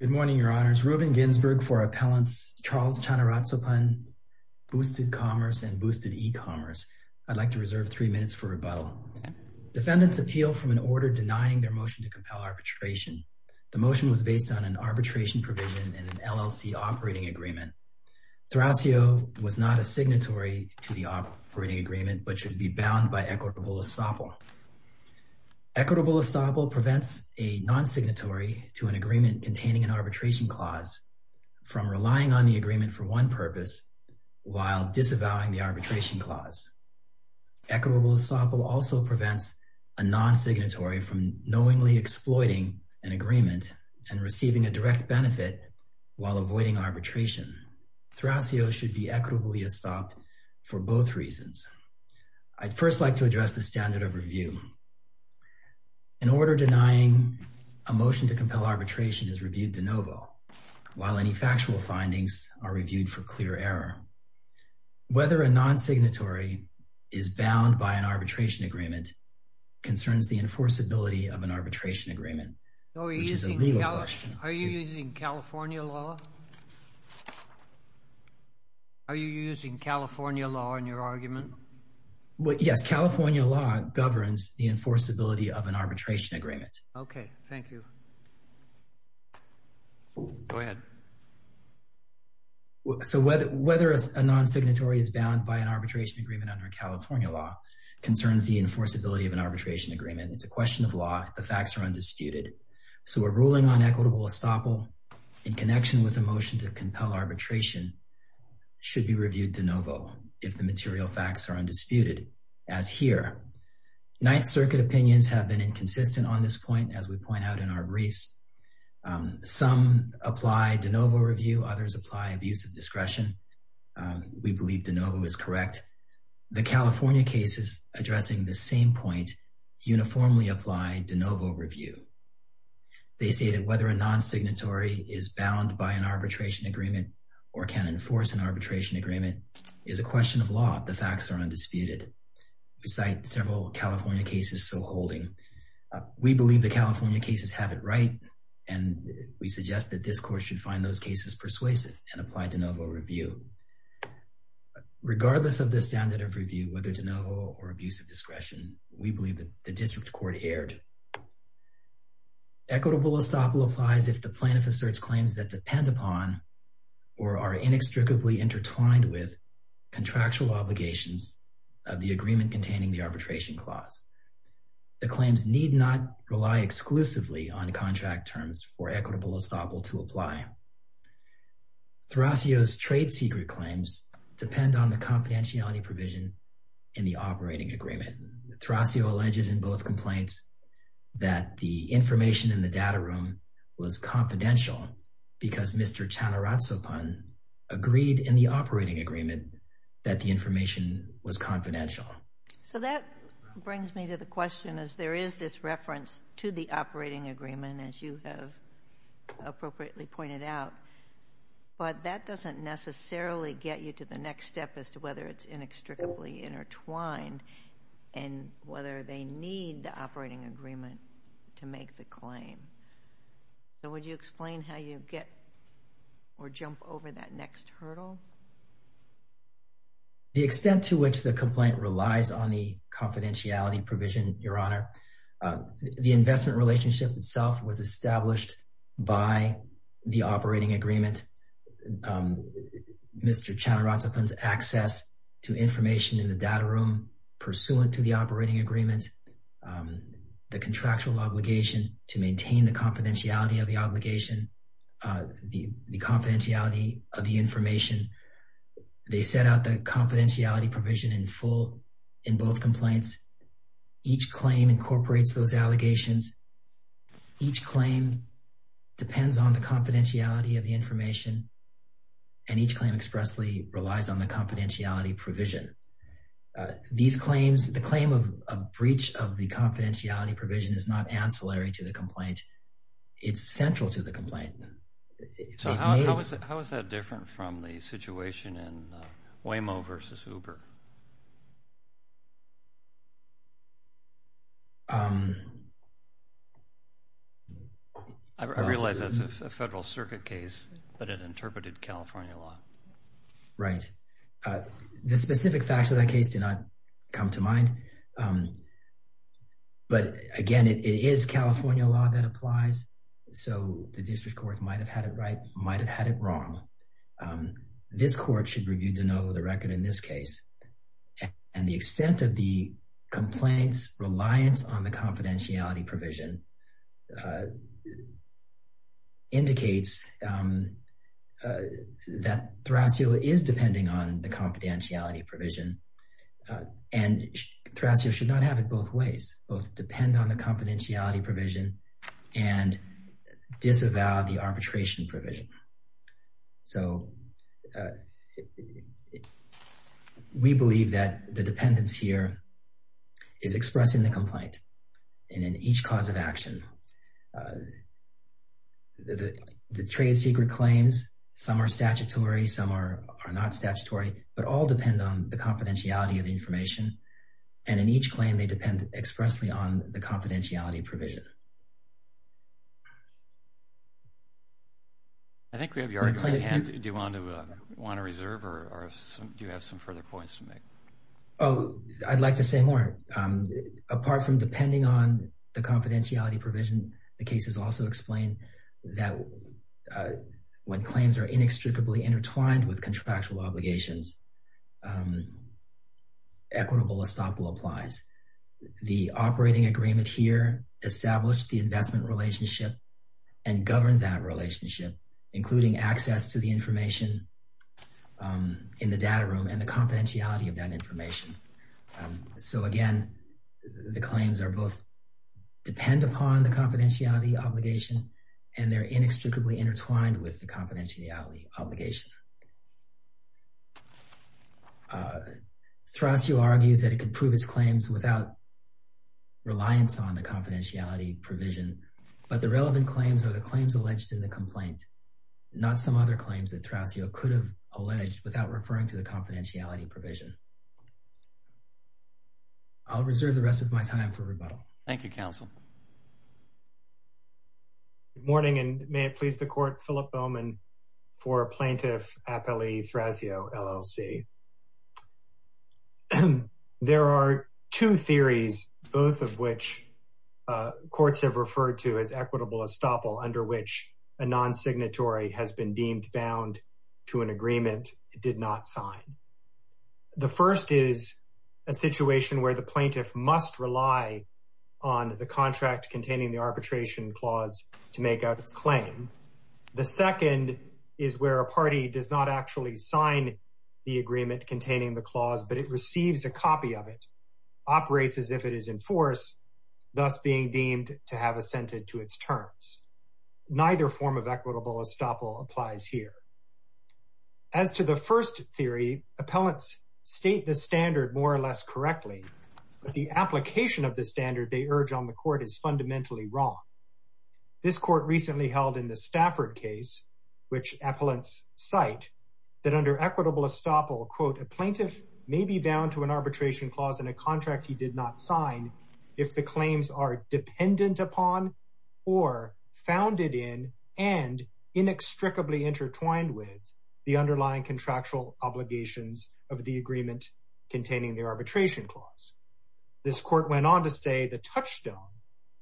Good morning, your honors. Reuben Ginsberg for Appellants, Charles Chanaratsopan, Boosted Commerce, and Boosted E-Commerce. I'd like to reserve three minutes for rebuttal. Defendants appeal from an order denying their motion to compel arbitration. The motion was based on an arbitration provision in an LLC operating agreement. Thrasio was not a signatory to the operating agreement, but should be bound by equitable estoppel. Equitable estoppel prevents a non-signatory to an agreement containing an arbitration clause from relying on the agreement for one purpose while disavowing the arbitration clause. Equitable estoppel also prevents a non-signatory from knowingly exploiting an agreement and receiving a direct benefit while avoiding arbitration. Thrasio should be equitably estopped for both reasons. I'd first like to address the standard of review. An order denying a motion to compel arbitration is reviewed de novo, while any factual findings are reviewed for clear error. Whether a non-signatory is bound by an arbitration agreement concerns the enforceability of an arbitration agreement, which is a legal question. Are you using California law? Are you using California law in your argument? Well, yes, California law governs the enforceability of an arbitration agreement. Okay, thank you. Go ahead. So whether a non-signatory is bound by an arbitration agreement under California law concerns the enforceability of an arbitration agreement. It's a question of law, the facts are undisputed. So we're ruling on equitable estoppel in connection with a motion to compel arbitration should be reviewed de novo if the material facts are undisputed, as here. Ninth Circuit opinions have been inconsistent on this point as we point out in our briefs. Some apply de novo review, others apply abuse of discretion. We believe de novo is correct. The California case is addressing the same point, uniformly apply de novo review. They say that whether a non-signatory is bound by an arbitration agreement or can enforce an arbitration agreement is a question of law, the facts are undisputed. We cite several California cases so holding. We believe the California cases have it right and we suggest that this court should find those cases persuasive and apply de novo review. Regardless of the standard of review, whether de novo or abuse of discretion, we believe that the district court erred. Equitable estoppel applies if the plaintiff asserts claims that depend upon or are inextricably intertwined with contractual obligations of the agreement containing the arbitration clause. The claims need not rely exclusively on contract terms for equitable estoppel to apply. Thrasio's trade secret claims depend on the confidentiality provision in the operating agreement. Thrasio alleges in both complaints that the information in the data room was confidential because Mr. Chanaratsopan agreed in the operating agreement that the information was confidential. So that brings me to the question is there is this reference to the operating agreement as you have appropriately pointed out, but that doesn't necessarily get you to the next step as to whether it's inextricably intertwined and whether they need the operating agreement to make the claim. So would you explain how you get or jump over that next hurdle? The extent to which the complaint relies on the confidentiality provision, Your Honor, the investment relationship itself was established by the operating agreement. Mr. Chanaratsopan's access to information in the data room pursuant to the operating agreement, the contractual obligation to maintain the confidentiality of the obligation, the confidentiality of the information. They set out the confidentiality provision in full in both complaints. Each claim incorporates those allegations. Each claim depends on the confidentiality of the information and each claim expressly relies on the confidentiality provision. These claims, the claim of a breach of the confidentiality provision is not ancillary to the complaint. It's central to the complaint. So how is that different from the situation in Waymo versus Uber? I realize that's a federal circuit case, but it interpreted California law. Right. The specific facts of that case did not come to mind, but again, it is California law that applies. So the district court might've had it right, might've had it wrong. This court should review de novo the record in this case. And the extent of the complaint's reliance on the confidentiality provision indicates that Thrasio is depending on the confidentiality provision and Thrasio should not have it both ways, both depend on the confidentiality provision and disavow the arbitration provision. So we believe that the dependence here is expressing the complaint and in each cause of action. The trade secret claims, some are statutory, some are not statutory, but all depend on the confidentiality of the information. And in each claim, they depend expressly on the confidentiality provision. I think we have your hand. Do you want to reserve or do you have some further points to make? Oh, I'd like to say more. Apart from depending on the confidentiality provision, the case has also explained that when claims are inextricably intertwined with contractual obligations, equitable estoppel applies. The operating agreement here establish the investment relationship and govern that relationship, including access to the information in the data room and the confidentiality of that information. So again, the claims are both, depend upon the confidentiality obligation and they're inextricably intertwined with the confidentiality obligation. Thrasio argues that it could prove its claims without reliance on the confidentiality provision, but the relevant claims are the claims alleged in the complaint, not some other claims that Thrasio could have alleged without referring to the confidentiality provision. I'll reserve the rest of my time for rebuttal. Thank you, counsel. Good morning and may it please the court, Philip Bowman for Plaintiff Appellee Thrasio, LLC. There are two theories, both of which courts have referred to as equitable estoppel under which a non-signatory has been deemed bound to an agreement it did not sign. The first is a situation where the plaintiff must rely on the contract containing the arbitration clause to make out its claim. The second is where a party does not actually sign the agreement containing the clause, but it receives a copy of it, operates as if it is in force, thus being deemed to have assented to its terms. Neither form of equitable estoppel applies here. As to the first theory, appellants state the standard more or less correctly, but the application of the standard they urge on the court is fundamentally wrong. This court recently held in the Stafford case, which appellants cite that under equitable estoppel, quote, a plaintiff may be bound to an arbitration clause in a contract he did not sign if the claims are dependent upon or founded in and inextricably intertwined with the underlying contractual obligations of the agreement containing the arbitration clause. This court went on to say the touchstone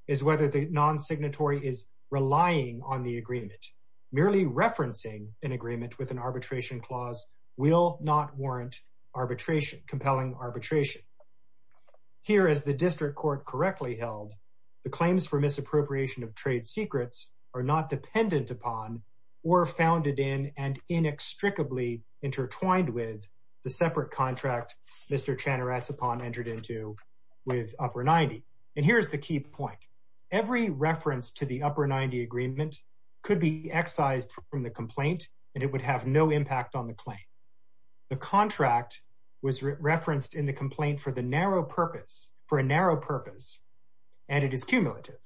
is whether the non-signatory is relying on the agreement. Merely referencing an agreement with an arbitration clause will not warrant arbitration, compelling arbitration. Here, as the district court correctly held, the claims for misappropriation of trade secrets are not dependent upon or founded in and inextricably intertwined with the separate contract Mr. Chanaratsopan entered into with Upper 90. And here's the key point. Every reference to the Upper 90 agreement could be excised from the complaint and it would have no impact on the claim. The contract was referenced in the complaint for a narrow purpose and it is cumulative.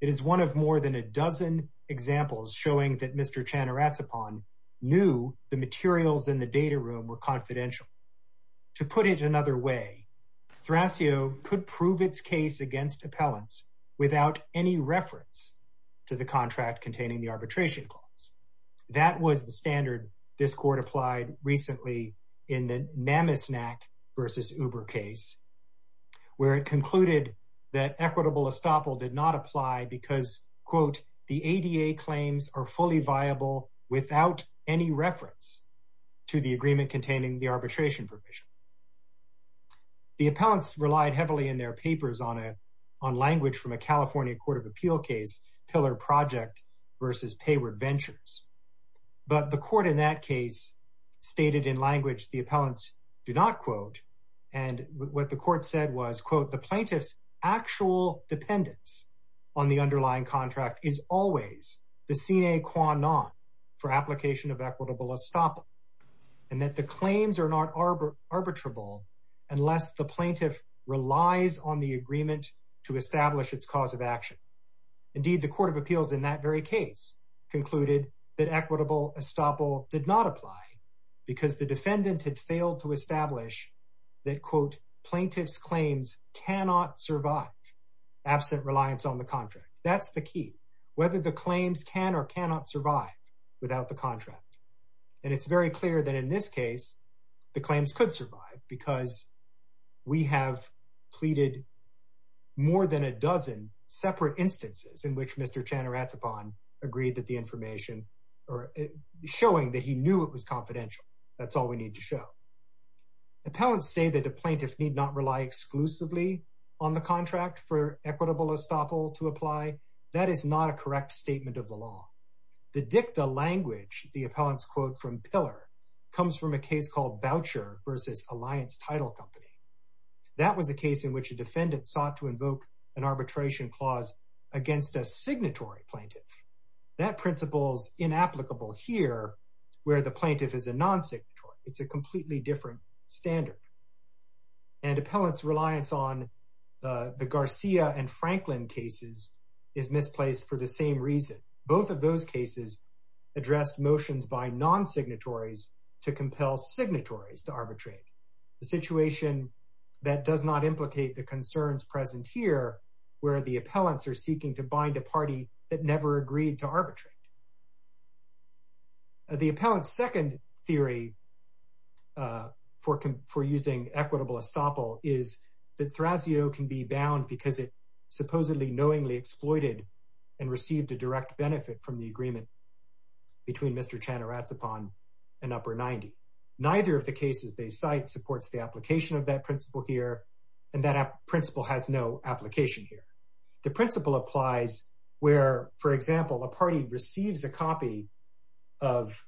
It is one of more than a dozen examples showing that Mr. Chanaratsopan knew the materials in the data room were confidential. To put it another way, Thrasio could prove its case against appellants without any reference to the contract containing the arbitration clause. That was the standard this court applied recently in the Mammisnack versus Uber case where it concluded that equitable estoppel did not apply because, quote, the ADA claims are fully viable without any reference to the agreement containing the arbitration provision. The appellants relied heavily in their papers on language from a California court of appeal case, Pillar Project versus Payward Ventures. But the court in that case stated in language And what the court said was, quote, the plaintiff's actual dependence on the underlying contract is always the sine qua non for application of equitable estoppel and that the claims are not arbitrable unless the plaintiff relies on the agreement to establish its cause of action. Indeed, the court of appeals in that very case concluded that equitable estoppel did not apply because the defendant had failed to establish that, quote, the plaintiff's claims cannot survive absent reliance on the contract. That's the key, whether the claims can or cannot survive without the contract. And it's very clear that in this case, the claims could survive because we have pleaded more than a dozen separate instances in which Mr. Chanaratsopan agreed that the information or showing that he knew it was confidential. That's all we need to show. Appellants say that a plaintiff need not rely exclusively on the contract for equitable estoppel to apply. That is not a correct statement of the law. The dicta language, the appellants quote from Pillar, comes from a case called Boucher versus Alliance Title Company. That was a case in which a defendant sought to invoke an arbitration clause against a signatory plaintiff. That principle's inapplicable here where the plaintiff is a non-signatory. It's a completely different standard. And appellants' reliance on the Garcia and Franklin cases is misplaced for the same reason. Both of those cases addressed motions by non-signatories to compel signatories to arbitrate. The situation that does not implicate the concerns present here where the appellants are seeking to bind a party that never agreed to arbitrate. The appellant's second theory for using equitable estoppel is that Thrasio can be bound because it supposedly knowingly exploited and received a direct benefit from the agreement between Mr. Chanaratsopan and Upper 90. Neither of the cases they cite supports the application of that principle here and that principle has no application here. The principle applies where, for example, a party receives a copy of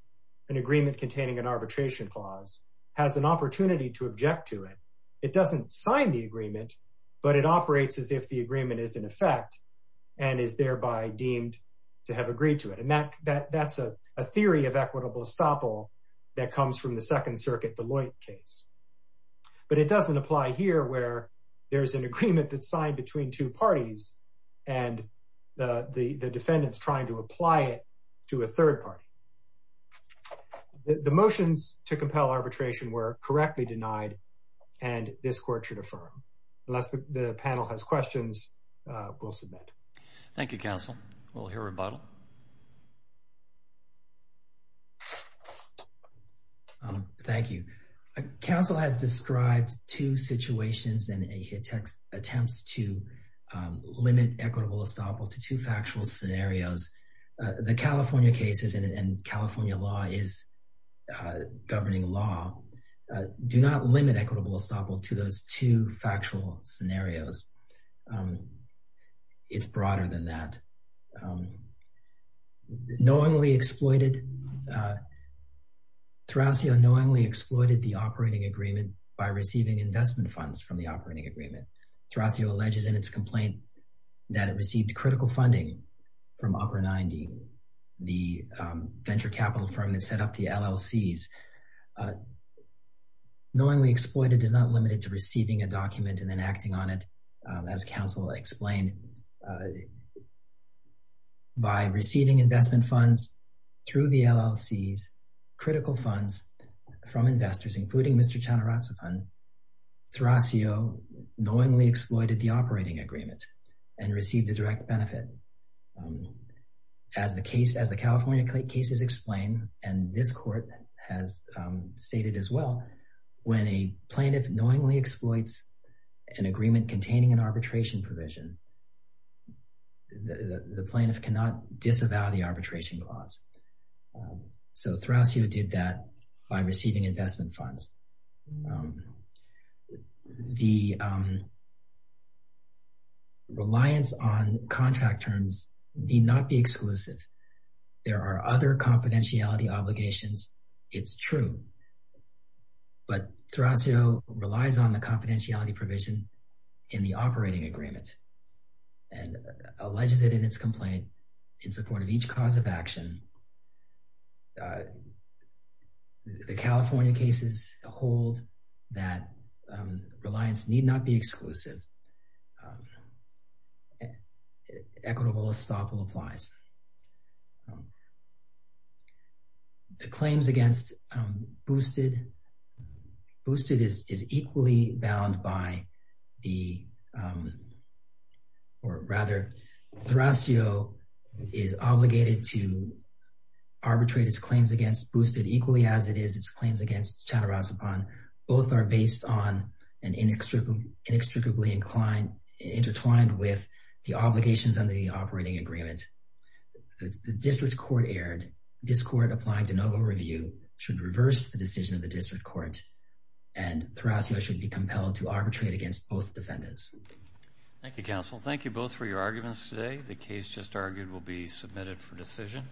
an agreement containing an arbitration clause, has an opportunity to object to it. It doesn't sign the agreement, but it operates as if the agreement is in effect and is thereby deemed to have agreed to it. And that's a theory of equitable estoppel that comes from the Second Circuit Deloitte case. But it doesn't apply here where there's an agreement that's signed between two parties and the defendant's trying to apply it to a third party. The motions to compel arbitration were correctly denied and this court should affirm. Unless the panel has questions, we'll submit. Thank you, counsel. We'll hear rebuttal. Thank you. Counsel has described two situations and he attempts to limit equitable estoppel to two factual scenarios. The California cases and California law is governing law do not limit equitable estoppel to those two factual scenarios. It's broader than that. Terraccio knowingly exploited the operating agreement by receiving investment funds from the operating agreement. Terraccio alleges in its complaint that it received critical funding from Upper 90, the venture capital firm that set up the LLCs. Knowingly exploited does not limit it to receiving a document and then acting on it as counsel explained by receiving investment funds through the LLCs, critical funds from investors, including Mr. Chanaratsapan. Terraccio knowingly exploited the operating agreement and received the direct benefit. As the California cases explain and this court has stated as well, when a plaintiff knowingly exploits an agreement containing an arbitration provision, the plaintiff cannot disavow the arbitration clause. So Terraccio did that by receiving investment funds. The reliance on contract terms need not be exclusive. There are other confidentiality obligations, it's true, but Terraccio relies on the confidentiality provision in the operating agreement and alleges it in its complaint in support of each cause of action. The California cases hold that reliance need not be exclusive. Equitable estoppel applies. The claims against Boosted, Boosted is equally bound by the, or rather Terraccio is obligated to arbitrate its claims against Boosted equally as it is its claims against Chanaratsapan. Both are based on and inextricably intertwined with the obligations on the operating agreement. The district court erred. This court applied to no review, should reverse the decision of the district court and Terraccio should be compelled to arbitrate against both defendants. Thank you, counsel. Thank you both for your arguments today. The case just argued will be submitted for decision.